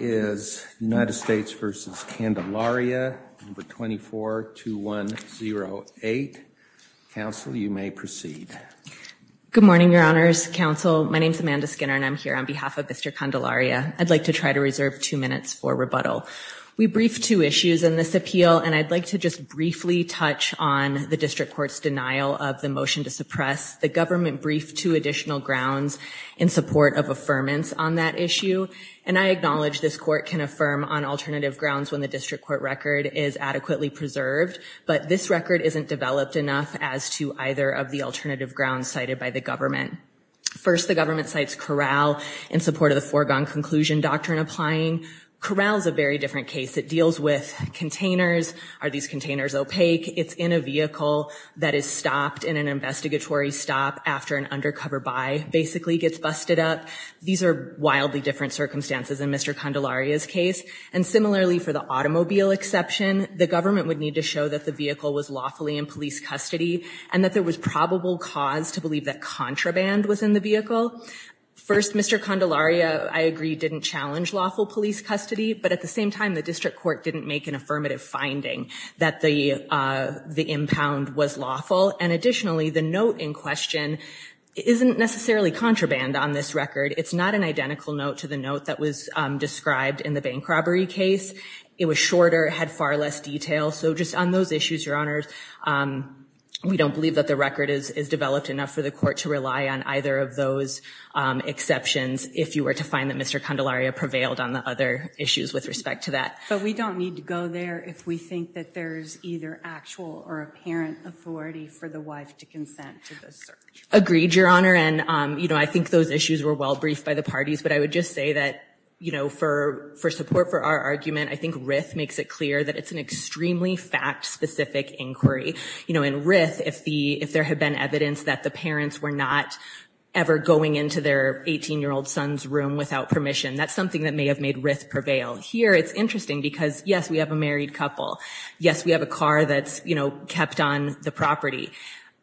No. 242108. Council, you may proceed. Good morning, Your Honors. Council, my name is Amanda Skinner, and I'm here on behalf of Mr. Candelaria. I'd like to try to reserve two minutes for rebuttal. We briefed two issues in this appeal, and I'd like to just briefly touch on the District Court's denial of the motion to suppress the government briefed two additional grounds in support of what this Court can affirm on alternative grounds when the District Court record is adequately preserved. But this record isn't developed enough as to either of the alternative grounds cited by the government. First, the government cites corral in support of the foregone conclusion doctrine applying. Corral is a very different case. It deals with containers. Are these containers opaque? It's in a vehicle that is stopped in an investigatory stop after an undercover buy basically gets busted up. These are wildly different circumstances in Mr. Candelaria's case. And similarly, for the automobile exception, the government would need to show that the vehicle was lawfully in police custody and that there was probable cause to believe that contraband was in the vehicle. First, Mr. Candelaria, I agree, didn't challenge lawful police custody. But at the same time, the District Court didn't make an affirmative finding that the impound was lawful. And additionally, the note in question isn't necessarily contraband on this record. It's not an identical note to the note that was described in the bank robbery case. It was shorter, had far less detail. So just on those issues, Your Honors, we don't believe that the record is developed enough for the Court to rely on either of those exceptions if you were to find that Mr. Candelaria prevailed on the other issues with respect to that. But we don't need to go there if we think that there's either actual or apparent authority for the wife to consent to this search. Agreed, Your Honor. And, you know, I think those issues were well briefed by the parties. But I would just say that, you know, for support for our argument, I think Rith makes it clear that it's an extremely fact-specific inquiry. You know, in Rith, if there had been evidence that the parents were not ever going into their 18-year-old son's room without permission, that's something that may have made Rith prevail. Here, it's interesting because, yes, we have a married couple. Yes, we have a car that's, you know, kept on the property.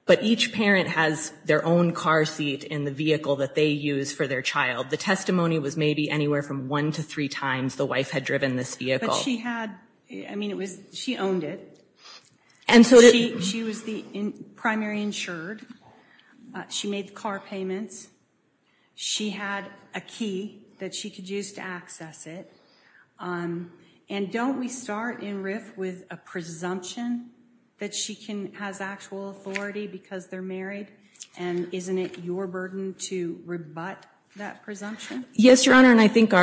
But each parent has their own car seat in the vehicle that they use for their child. The testimony was maybe anywhere from one to three times the wife had driven this vehicle. But she had, I mean, it was, she owned it. And so did... She was the primary insured. She made the car payments. She had a key that she could use to access it. And don't we start in Rith with a presumption that she has actual authority because they're married? And isn't it your burden to rebut that presumption? Yes, Your Honor. And I think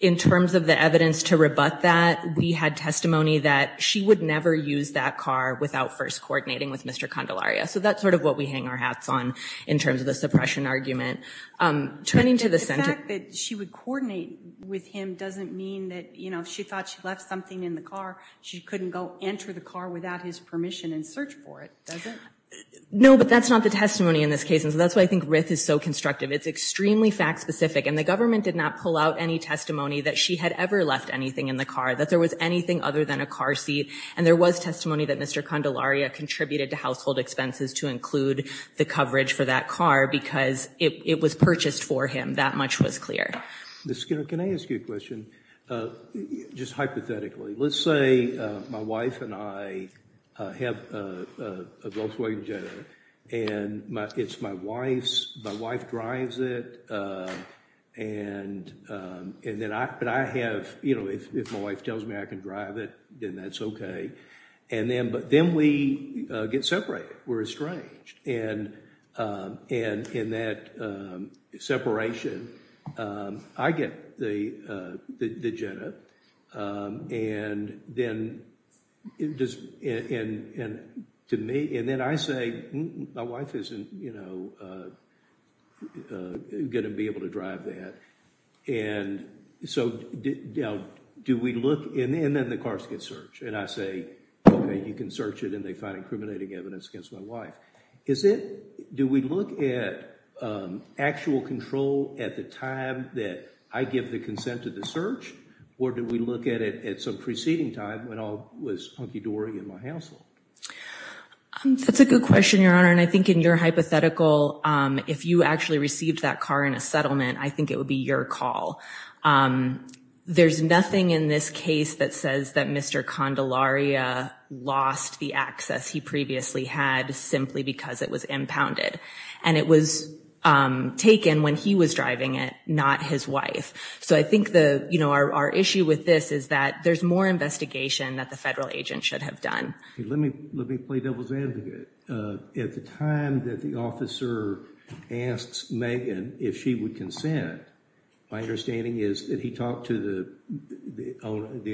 in terms of the evidence to rebut that, we had testimony that she would never use that car without first coordinating with Mr. Candelaria. So that's sort of what we hang our hats on in terms of the suppression argument. Turning to the... The fact that she would coordinate with him doesn't mean that, you know, if she thought she left something in the car, she couldn't go enter the car without his permission and search for it, does it? No, but that's not the testimony in this case. And so that's why I think Rith is so constructive. It's extremely fact-specific. And the government did not pull out any testimony that she had ever left anything in the car, that there was anything other than a car seat. And there was testimony that Mr. Candelaria contributed to household expenses to include the coverage for that car because it was purchased for him. That much was clear. Ms. Skinner, can I ask you a question? Just hypothetically, let's say my wife and I have a Volkswagen Jetta, and it's my wife's... My wife drives it, and then I... But I have... You know, if my wife tells me I can drive it, then that's okay. But then we get separated. We're estranged. And in that separation, I get the Jetta. And then... To me... And then I say, my wife isn't, you know, going to be able to drive that. And so do we look... And then the cars get searched. And I say, okay, you can search it, and they find incriminating evidence against my wife. Is it... Do we look at actual control at the time that I give the consent to the search, or do we look at it at some preceding time when I was hunky-dory in my household? That's a good question, Your Honor. And I think in your hypothetical, if you actually received that car in a settlement, I think it would be your call. There's nothing in this case that says that Mr. Candelaria lost the access he previously had simply because it was impounded. And it was taken when he was driving it, not his wife. So I think, you know, our issue with this is that there's more investigation that the federal agent should have done. Let me play devil's advocate. At the time that the officer asks Megan if she would consent, my understanding is that he talked to the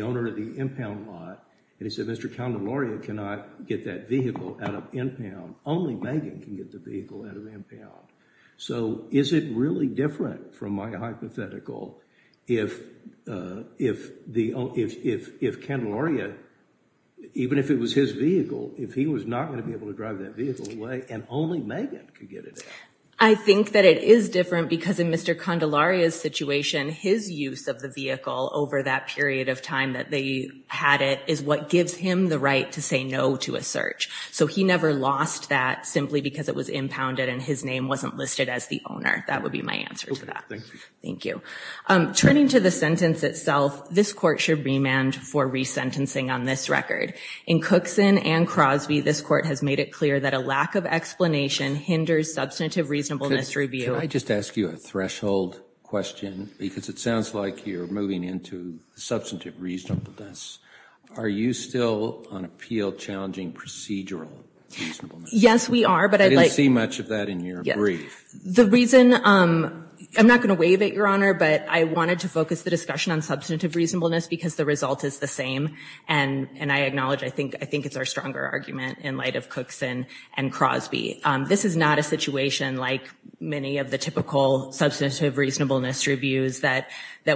owner of the impound lot, and he said Mr. Candelaria cannot get that vehicle out of impound. Only Megan can get the vehicle out of impound. So is it really different from my hypothetical if Candelaria, even if it was his vehicle, if he was not going to be able to drive that vehicle away and only Megan could get it out? I think that it is different because in Mr. Candelaria's situation, his use of the vehicle over that period of time that they had it is what gives him the right to say no to a search. So he never lost that simply because it was impounded and his name wasn't listed as the owner. That would be my answer to that. Thank you. Turning to the sentence itself, this court should remand for resentencing on this record. In Cookson and Crosby, this court has made it clear that a lack of explanation hinders substantive reasonableness review. Can I just ask you a threshold question? Because it sounds like you're moving into substantive reasonableness. Are you still on appeal challenging procedural reasonableness? Yes, we are. I didn't see much of that in your brief. The reason, I'm not going to wave it, Your Honor, but I wanted to focus the discussion on substantive reasonableness because the result is the same, and I acknowledge I think it's our stronger argument in light of Cookson and Crosby. This is not a situation like many of the typical substantive reasonableness reviews that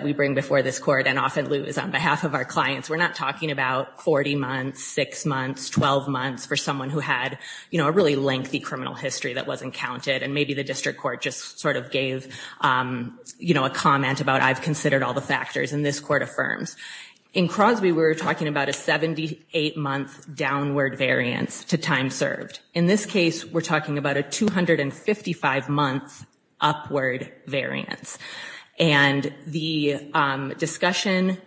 we bring before this court and often lose on behalf of our clients. We're not talking about 40 months, 6 months, 12 months for someone who had a really lengthy criminal history that wasn't counted and maybe the district court just sort of gave a comment about I've considered all the factors and this court affirms. In Crosby, we were talking about a 78-month downward variance to time served. In this case, we're talking about a 255-month upward variance, and the discussion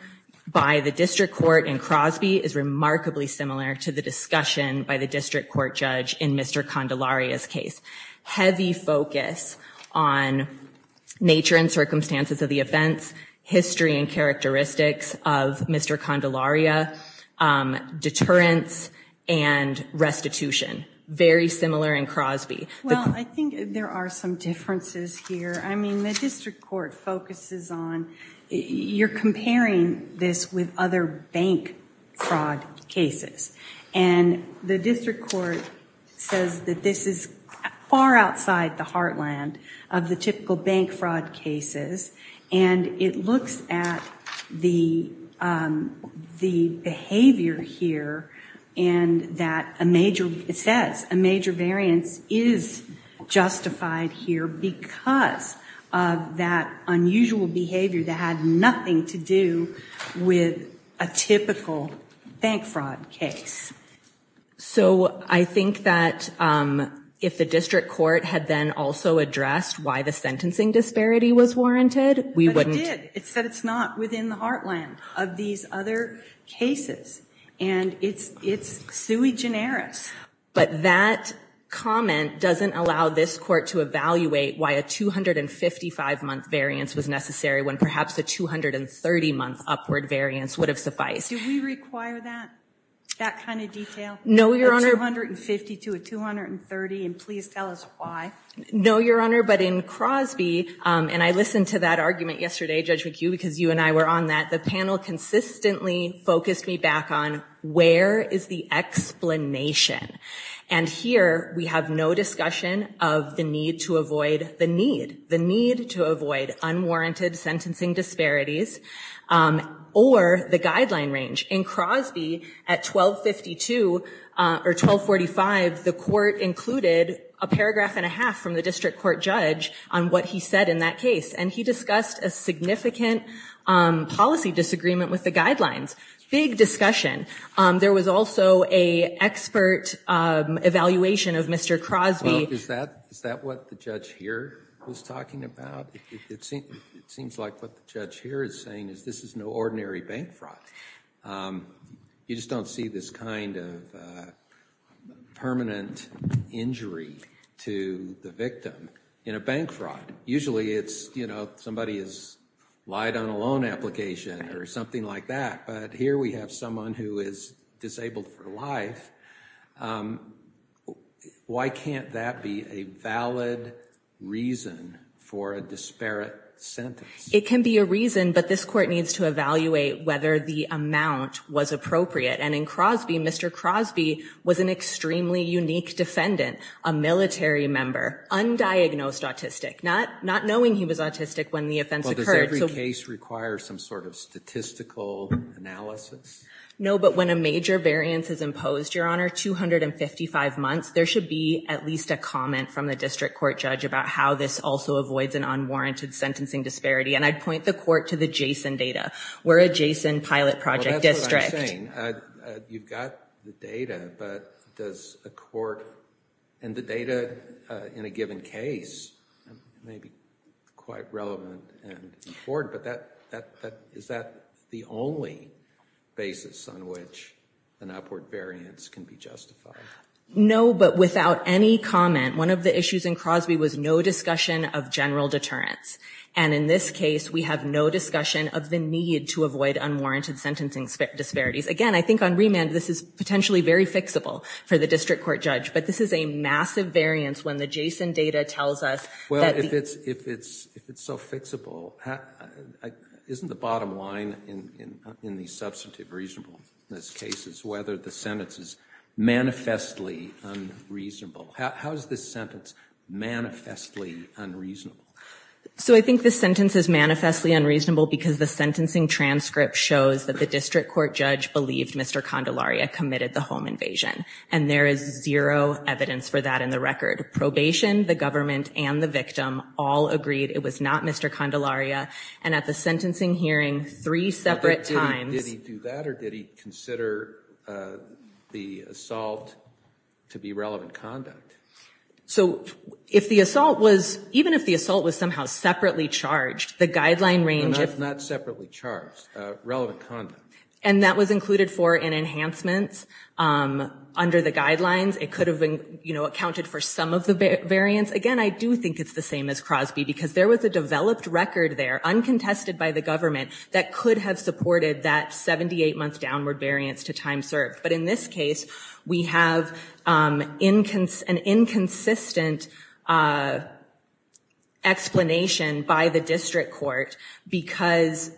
by the district court in Crosby is remarkably similar to the discussion by the district court judge in Mr. Condelaria's case. Heavy focus on nature and circumstances of the events, history and characteristics of Mr. Condelaria, deterrence and restitution. Very similar in Crosby. Well, I think there are some differences here. I mean, the district court focuses on you're comparing this with other bank fraud cases, and the district court says that this is far outside the heartland of the typical bank fraud cases, and it looks at the behavior here and that a major, it says a major variance is justified here because of that unusual behavior that had nothing to do with a typical bank fraud case. So I think that if the district court had then also addressed why the sentencing disparity was warranted, we wouldn't But it did. It said it's not within the heartland of these other cases, and it's sui generis. But that comment doesn't allow this court to evaluate why a 255-month variance was necessary when perhaps a 230-month upward variance would have sufficed. Do we require that, that kind of detail? No, Your Honor. A 250 to a 230, and please tell us why. No, Your Honor, but in Crosby, and I listened to that argument yesterday, Judge McHugh, because you and I were on that, the panel consistently focused me back on where is the explanation, and here we have no discussion of the need to avoid the need, the need to avoid unwarranted sentencing disparities or the guideline range. In Crosby, at 1252 or 1245, the court included a paragraph and a half from the district court judge on what he said in that case, and he discussed a significant policy disagreement with the guidelines. Big discussion. There was also a expert evaluation of Mr. Crosby. Is that what the judge here was talking about? It seems like what the judge here is saying is this is no ordinary bank fraud. You just don't see this kind of permanent injury to the victim. In a bank fraud, usually it's, you know, somebody has lied on a loan application or something like that, but here we have someone who is disabled for life. Why can't that be a valid reason for a disparate sentence? It can be a reason, but this court needs to evaluate whether the amount was appropriate, and in Crosby, Mr. Crosby was an extremely unique defendant, a military member, undiagnosed autistic, not knowing he was autistic when the offense occurred. Well, does every case require some sort of statistical analysis? No, but when a major variance is imposed, Your Honor, 255 months, there should be at least a comment from the district court judge about how this also avoids an unwarranted sentencing disparity, and I'd point the court to the Jason data. We're a Jason pilot project district. You've got the data, but does a court, and the data in a given case may be quite relevant and important, but is that the only basis on which an upward variance can be justified? No, but without any comment, one of the issues in Crosby was no discussion of general deterrence, and in this case, we have no discussion of the need to avoid unwarranted sentencing disparities. Again, I think on remand, this is potentially very fixable for the district court judge, but this is a massive variance when the Jason data tells us that the- Well, if it's so fixable, isn't the bottom line in these substantive reasonableness cases whether the sentence is manifestly unreasonable? How is this sentence manifestly unreasonable? So I think the sentence is manifestly unreasonable because the sentencing transcript shows that the district court judge believed Mr. Candelaria committed the home invasion, and there is zero evidence for that in the record. Probation, the government, and the victim all agreed it was not Mr. Candelaria, and at the sentencing hearing, three separate times- Did he do that, or did he consider the assault to be relevant conduct? So if the assault was- even if the assault was somehow separately charged, the guideline range- Not separately charged, relevant conduct. And that was included for an enhancement under the guidelines. It could have, you know, accounted for some of the variance. Again, I do think it's the same as Crosby because there was a developed record there uncontested by the government that could have supported that 78-month downward variance to time served. But in this case, we have an inconsistent explanation by the district court because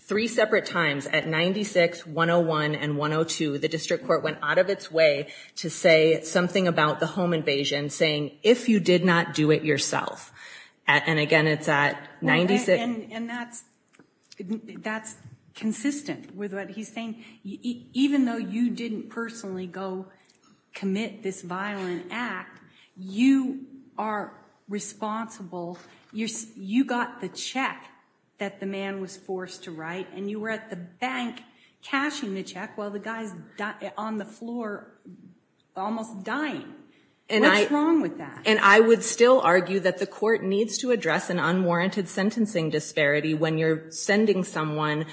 three separate times, at 96, 101, and 102, the district court went out of its way to say something about the home invasion, saying, if you did not do it yourself. And again, it's at 96- And that's consistent with what he's saying. Even though you didn't personally go commit this violent act, you are responsible. You got the check that the man was forced to write, and you were at the bank cashing the check while the guy's on the floor almost dying. What's wrong with that? And I would still argue that the court needs to address an unwarranted sentencing disparity when you're sending someone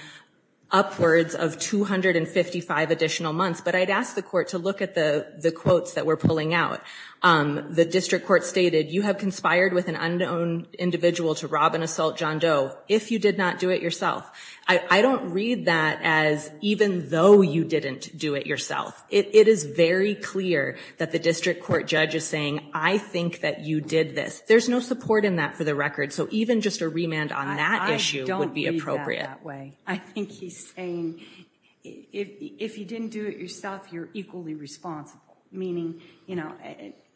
upwards of 255 additional months. But I'd ask the court to look at the quotes that we're pulling out. The district court stated, you have conspired with an unknown individual to rob and assault John Doe if you did not do it yourself. I don't read that as even though you didn't do it yourself. It is very clear that the district court judge is saying, I think that you did this. There's no support in that for the record. So even just a remand on that issue would be appropriate. I don't read that that way. I think he's saying, if you didn't do it yourself, you're equally responsible. Meaning, you know,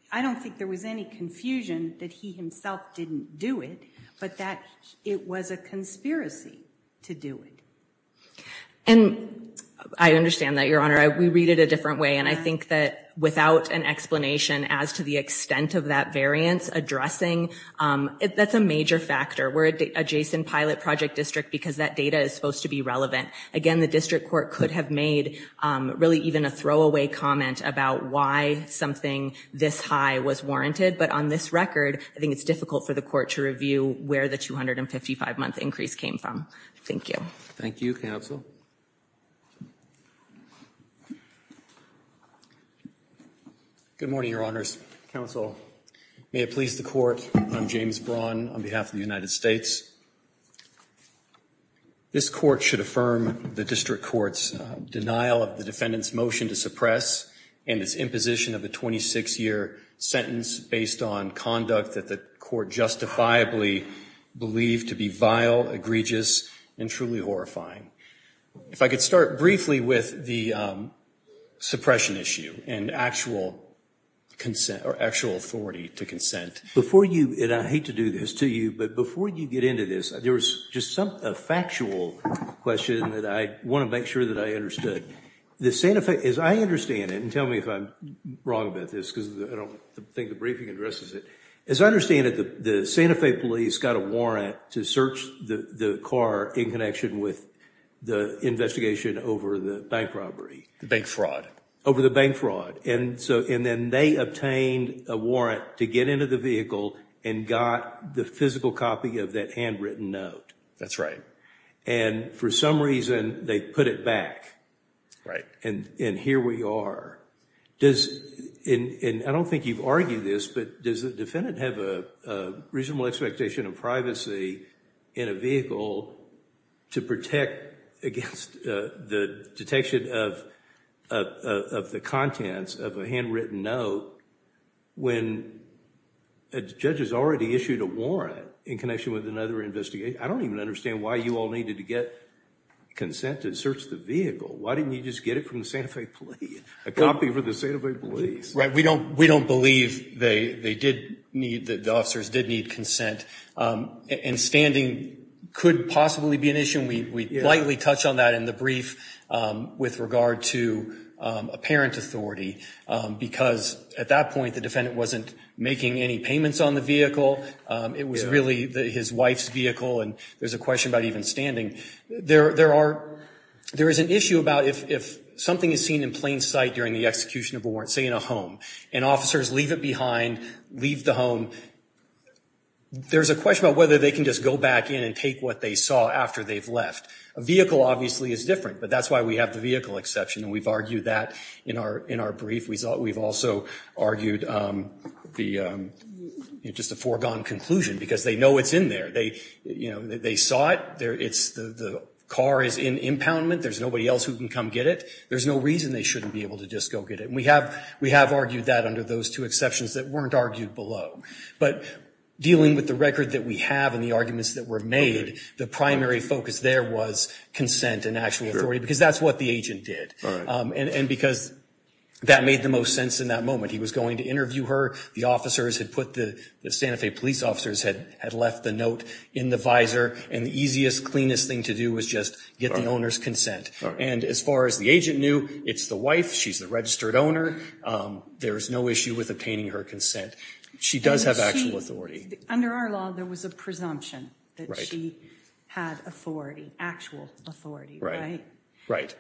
I don't think there was any confusion that he himself didn't do it, but that it was a conspiracy to do it. And I understand that, Your Honor. We read it a different way. And I think that without an explanation as to the extent of that variance addressing, that's a major factor. We're a JSON pilot project district because that data is supposed to be relevant. Again, the district court could have made really even a throwaway comment about why something this high was warranted. But on this record, I think it's difficult for the court to review where the 255-month increase came from. Thank you. Thank you, counsel. Good morning, Your Honors. Counsel, may it please the court, I'm James Braun on behalf of the United States. This court should affirm the district court's denial of the defendant's motion to suppress and its imposition of a 26-year sentence based on conduct that the court justifiably believed to be vile, egregious, and truly horrifying. If I could start briefly with the suppression issue and actual consent or actual authority to consent. Before you, and I hate to do this to you, but before you get into this, there was just a factual question that I want to make sure that I understood. The Santa Fe, as I understand it, and tell me if I'm wrong about this because I don't think the briefing addresses it. As I understand it, the Santa Fe police got a warrant to search the car in connection with the investigation over the bank robbery. The bank fraud. Over the bank fraud. And then they obtained a warrant to get into the vehicle and got the physical copy of that handwritten note. That's right. And for some reason, they put it back. Right. And here we are. And I don't think you've argued this, but does the defendant have a reasonable expectation of privacy in a vehicle to protect against the detection of the contents of a handwritten note when a judge has already issued a warrant in connection with another investigation? I don't even understand why you all needed to get consent to search the vehicle. Why didn't you just get it from the Santa Fe police? A copy for the Santa Fe police. Right. We don't believe they did need, that the officers did need consent. And standing could possibly be an issue. We lightly touched on that in the brief with regard to a parent authority because at that point, the defendant wasn't making any payments on the vehicle. It was really his wife's vehicle, and there's a question about even standing. There is an issue about if something is seen in plain sight during the execution of a warrant, say in a home, and officers leave it behind, leave the home, there's a question about whether they can just go back in and take what they saw after they've left. A vehicle obviously is different, but that's why we have the vehicle exception, and we've argued that in our brief. We've also argued just a foregone conclusion because they know it's in there. They saw it. The car is in impoundment. There's nobody else who can come get it. There's no reason they shouldn't be able to just go get it, and we have argued that under those two exceptions that weren't argued below. But dealing with the record that we have and the arguments that were made, the primary focus there was consent and actual authority because that's what the agent did, and because that made the most sense in that moment. He was going to interview her. The officers had put the Santa Fe police officers had left the note in the visor, and the easiest, cleanest thing to do was just get the owner's consent. And as far as the agent knew, it's the wife. She's the registered owner. There's no issue with obtaining her consent. She does have actual authority. Under our law, there was a presumption that she had authority, actual authority, right? Right.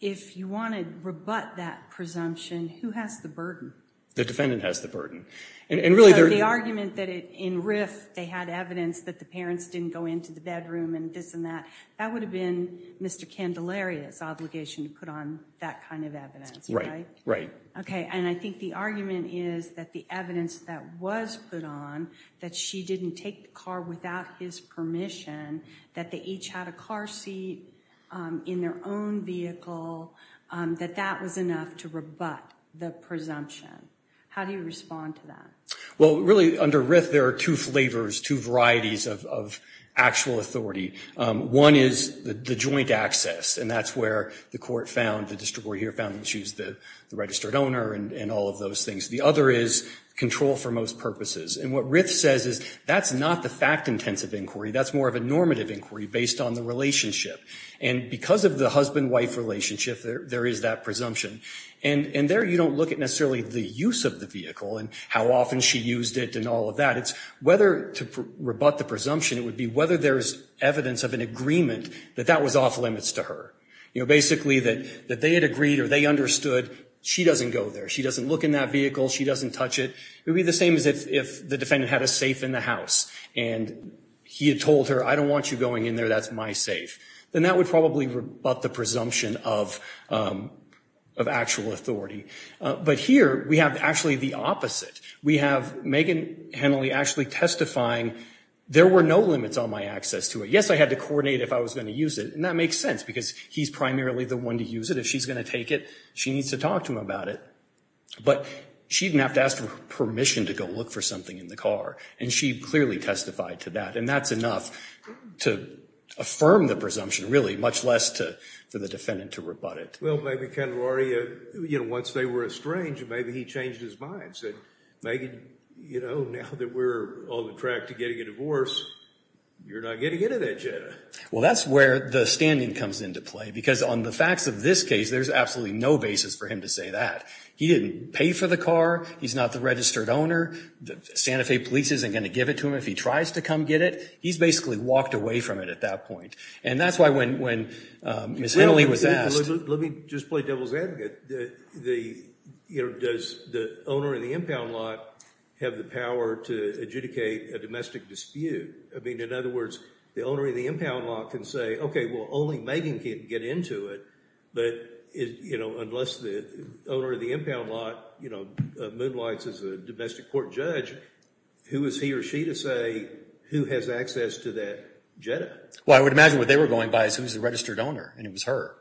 If you want to rebut that presumption, who has the burden? The defendant has the burden. So the argument that in RIF they had evidence that the parents didn't go into the bedroom and this and that, that would have been Mr. Candelaria's obligation to put on that kind of evidence, right? Right. Okay, and I think the argument is that the evidence that was put on, that she didn't take the car without his permission, that they each had a car seat in their own vehicle, that that was enough to rebut the presumption. How do you respond to that? Well, really, under RIF, there are two flavors, two varieties of actual authority. One is the joint access, and that's where the court found, the district court here found that she's the registered owner and all of those things. The other is control for most purposes. And what RIF says is that's not the fact-intensive inquiry. That's more of a normative inquiry based on the relationship. And because of the husband-wife relationship, there is that presumption. And there you don't look at necessarily the use of the vehicle and how often she used it and all of that. It's whether to rebut the presumption, it would be whether there's evidence of an agreement that that was off limits to her. You know, basically that they had agreed or they understood she doesn't go there. She doesn't look in that vehicle. She doesn't touch it. It would be the same as if the defendant had a safe in the house, and he had told her, I don't want you going in there. That's my safe. Then that would probably rebut the presumption of actual authority. But here we have actually the opposite. We have Megan Henley actually testifying, there were no limits on my access to it. Yes, I had to coordinate if I was going to use it. And that makes sense because he's primarily the one to use it. If she's going to take it, she needs to talk to him about it. But she didn't have to ask for permission to go look for something in the car. And she clearly testified to that. And that's enough to affirm the presumption, really, much less for the defendant to rebut it. Well, maybe Ken Laurie, you know, once they were estranged, maybe he changed his mind and said, Megan, you know, now that we're on the track to getting a divorce, you're not getting into that yet. Well, that's where the standing comes into play. Because on the facts of this case, there's absolutely no basis for him to say that. He didn't pay for the car. He's not the registered owner. Santa Fe Police isn't going to give it to him if he tries to come get it. He's basically walked away from it at that point. And that's why when Ms. Henley was asked. Let me just play devil's advocate. Does the owner of the impound lot have the power to adjudicate a domestic dispute? I mean, in other words, the owner of the impound lot can say, okay, well, only Megan can get into it. But, you know, unless the owner of the impound lot, you know, moonlights as a domestic court judge, who is he or she to say who has access to that Jetta? Well, I would imagine what they were going by is who's the registered owner, and it was her.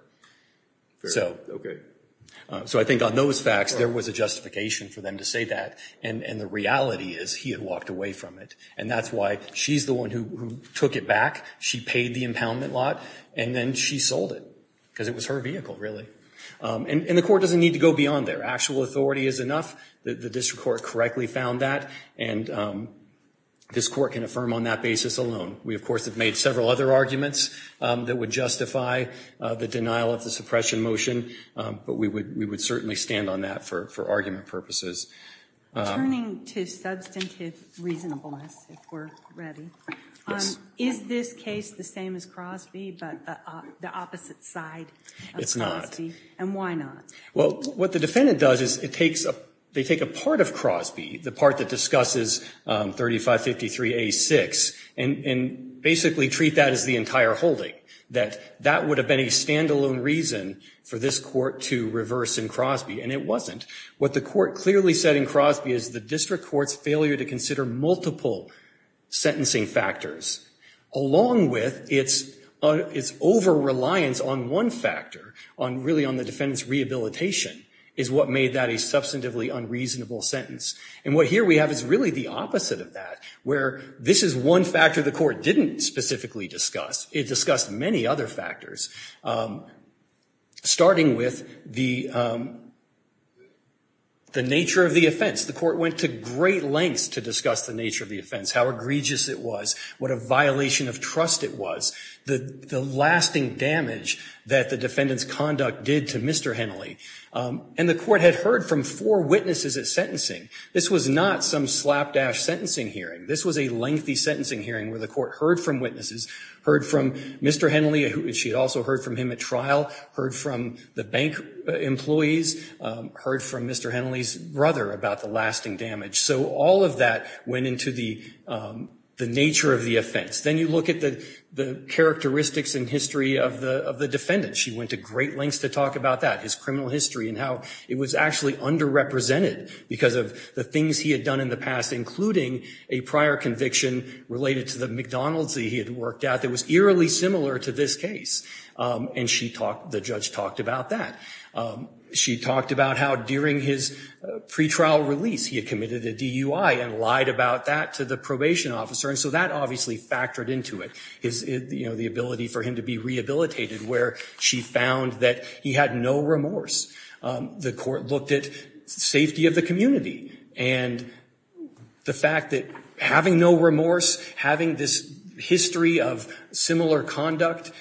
Okay. So I think on those facts, there was a justification for them to say that. And the reality is he had walked away from it. And that's why she's the one who took it back. She paid the impound lot, and then she sold it. Because it was her vehicle, really. And the court doesn't need to go beyond there. Actual authority is enough. The district court correctly found that. And this court can affirm on that basis alone. We, of course, have made several other arguments that would justify the denial of the suppression motion. But we would certainly stand on that for argument purposes. Turning to substantive reasonableness, if we're ready. Is this case the same as Crosby, but the opposite side? It's not. And why not? Well, what the defendant does is they take a part of Crosby, the part that discusses 3553A6, and basically treat that as the entire holding, that that would have been a standalone reason for this court to reverse in Crosby, and it wasn't. What the court clearly said in Crosby is the district court's failure to along with its over-reliance on one factor, really on the defendant's rehabilitation, is what made that a substantively unreasonable sentence. And what here we have is really the opposite of that, where this is one factor the court didn't specifically discuss. It discussed many other factors. Starting with the nature of the offense. The court went to great lengths to discuss the nature of the offense, how egregious it was, what a violation of trust it was, the lasting damage that the defendant's conduct did to Mr. Henley. And the court had heard from four witnesses at sentencing. This was not some slapdash sentencing hearing. This was a lengthy sentencing hearing where the court heard from witnesses, heard from Mr. Henley, and she had also heard from him at trial, heard from the bank employees, heard from Mr. Henley's brother about the lasting damage. So all of that went into the nature of the offense. Then you look at the characteristics and history of the defendant. She went to great lengths to talk about that, his criminal history and how it was actually underrepresented because of the things he had done in the past, including a prior conviction related to the McDonald's that he had worked at that was eerily similar to this case. And the judge talked about that. She talked about how during his pretrial release he had committed a DUI and lied about that to the probation officer. And so that obviously factored into it, the ability for him to be rehabilitated, where she found that he had no remorse. The court looked at safety of the community. And the fact that having no remorse, having this history of similar conduct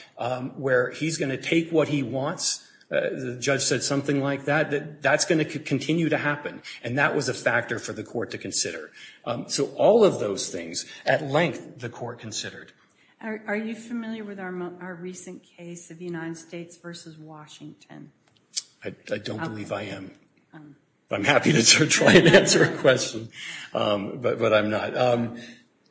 where he's going to take what he wants, the judge said something like that, that's going to continue to happen. And that was a factor for the court to consider. So all of those things at length the court considered. Are you familiar with our recent case of the United States versus Washington? I don't believe I am. I'm happy to try and answer a question, but I'm not.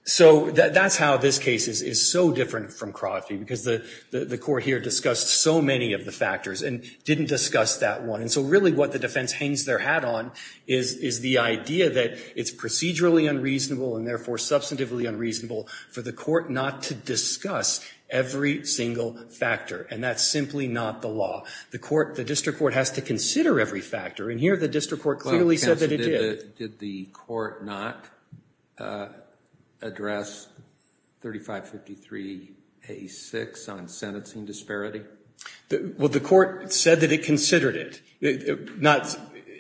So that's how this case is so different from Crosby because the court here discussed so many of the factors and didn't discuss that one. And so really what the defense hangs their hat on is the idea that it's procedurally unreasonable and therefore substantively unreasonable for the court not to discuss every single factor. And that's simply not the law. The district court has to consider every factor. And here the district court clearly said that it did. Did the court not address 3553A6 on sentencing disparity? Well, the court said that it considered it. Not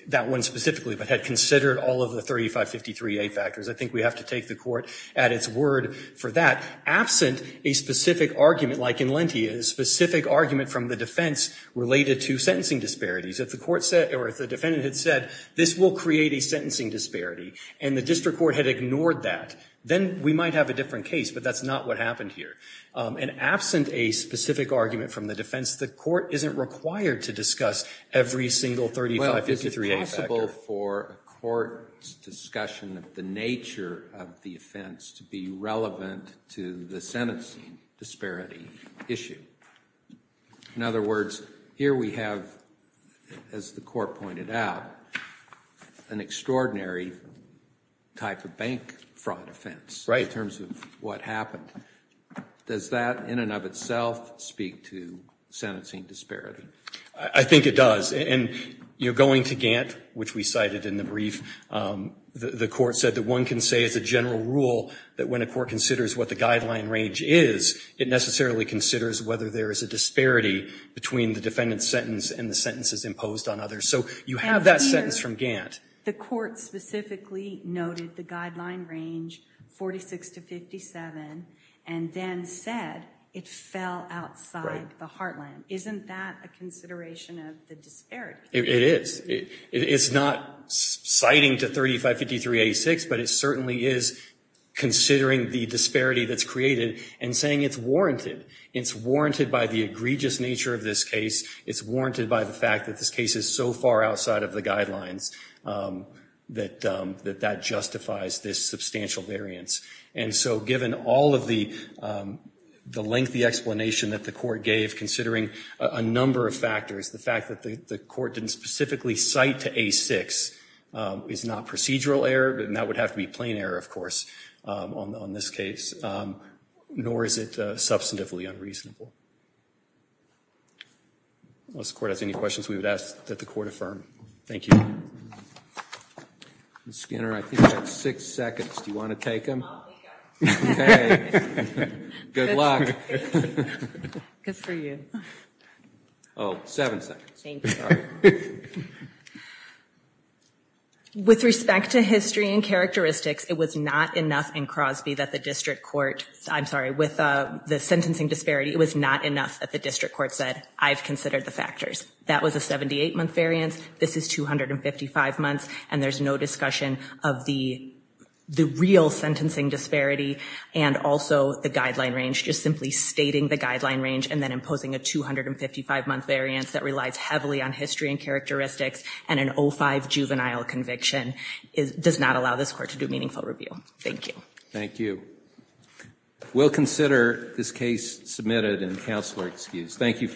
that one specifically, but had considered all of the 3553A factors. I think we have to take the court at its word for that. Absent a specific argument like in Lentia, a specific argument from the defense related to sentencing disparities. If the defendant had said, this will create a sentencing disparity and the district court had ignored that, then we might have a different case, but that's not what happened here. And absent a specific argument from the defense, the court isn't required to discuss every single 3553A factor. Well, is it possible for a court's discussion of the nature of the offense to be relevant to the sentencing disparity issue? In other words, here we have, as the court pointed out, an extraordinary type of bank fraud offense in terms of what happened. Does that in and of itself speak to sentencing disparity? I think it does. And going to Gant, which we cited in the brief, the court said that one can say as a general rule that when a court considers what the guideline range is, it necessarily considers whether there is a disparity between the defendant's sentence and the sentences imposed on others. So you have that sentence from Gant. The court specifically noted the guideline range 46 to 57 and then said it fell outside the heartland. Isn't that a consideration of the disparity? It is. It's not citing to 3553A6, but it certainly is considering the disparity that's created and saying it's warranted. It's warranted by the egregious nature of this case. It's warranted by the fact that this case is so far outside of the guidelines that that justifies this substantial variance. And so given all of the lengthy explanation that the court gave considering a number of factors, the fact that the court didn't specifically cite to A6 is not procedural error, and that would have to be plain error, of course, on this case, nor is it substantively unreasonable. Unless the court has any questions, we would ask that the court affirm. Thank you. Ms. Skinner, I think you have six seconds. Do you want to take them? I'll take them. Okay. Good luck. Good for you. Oh, seven seconds. Thank you. All right. With respect to history and characteristics, it was not enough in Crosby that the district court, I'm sorry, with the sentencing disparity, it was not enough that the district court said I've considered the factors. That was a 78-month variance. This is 255 months, and there's no discussion of the real sentencing disparity and also the guideline range, just simply stating the guideline range and then imposing a 255-month variance that relies heavily on history and characteristics and an 05 juvenile conviction does not allow this court to do meaningful review. Thank you. Thank you. We'll consider this case submitted and counselor excused. Thank you for your time.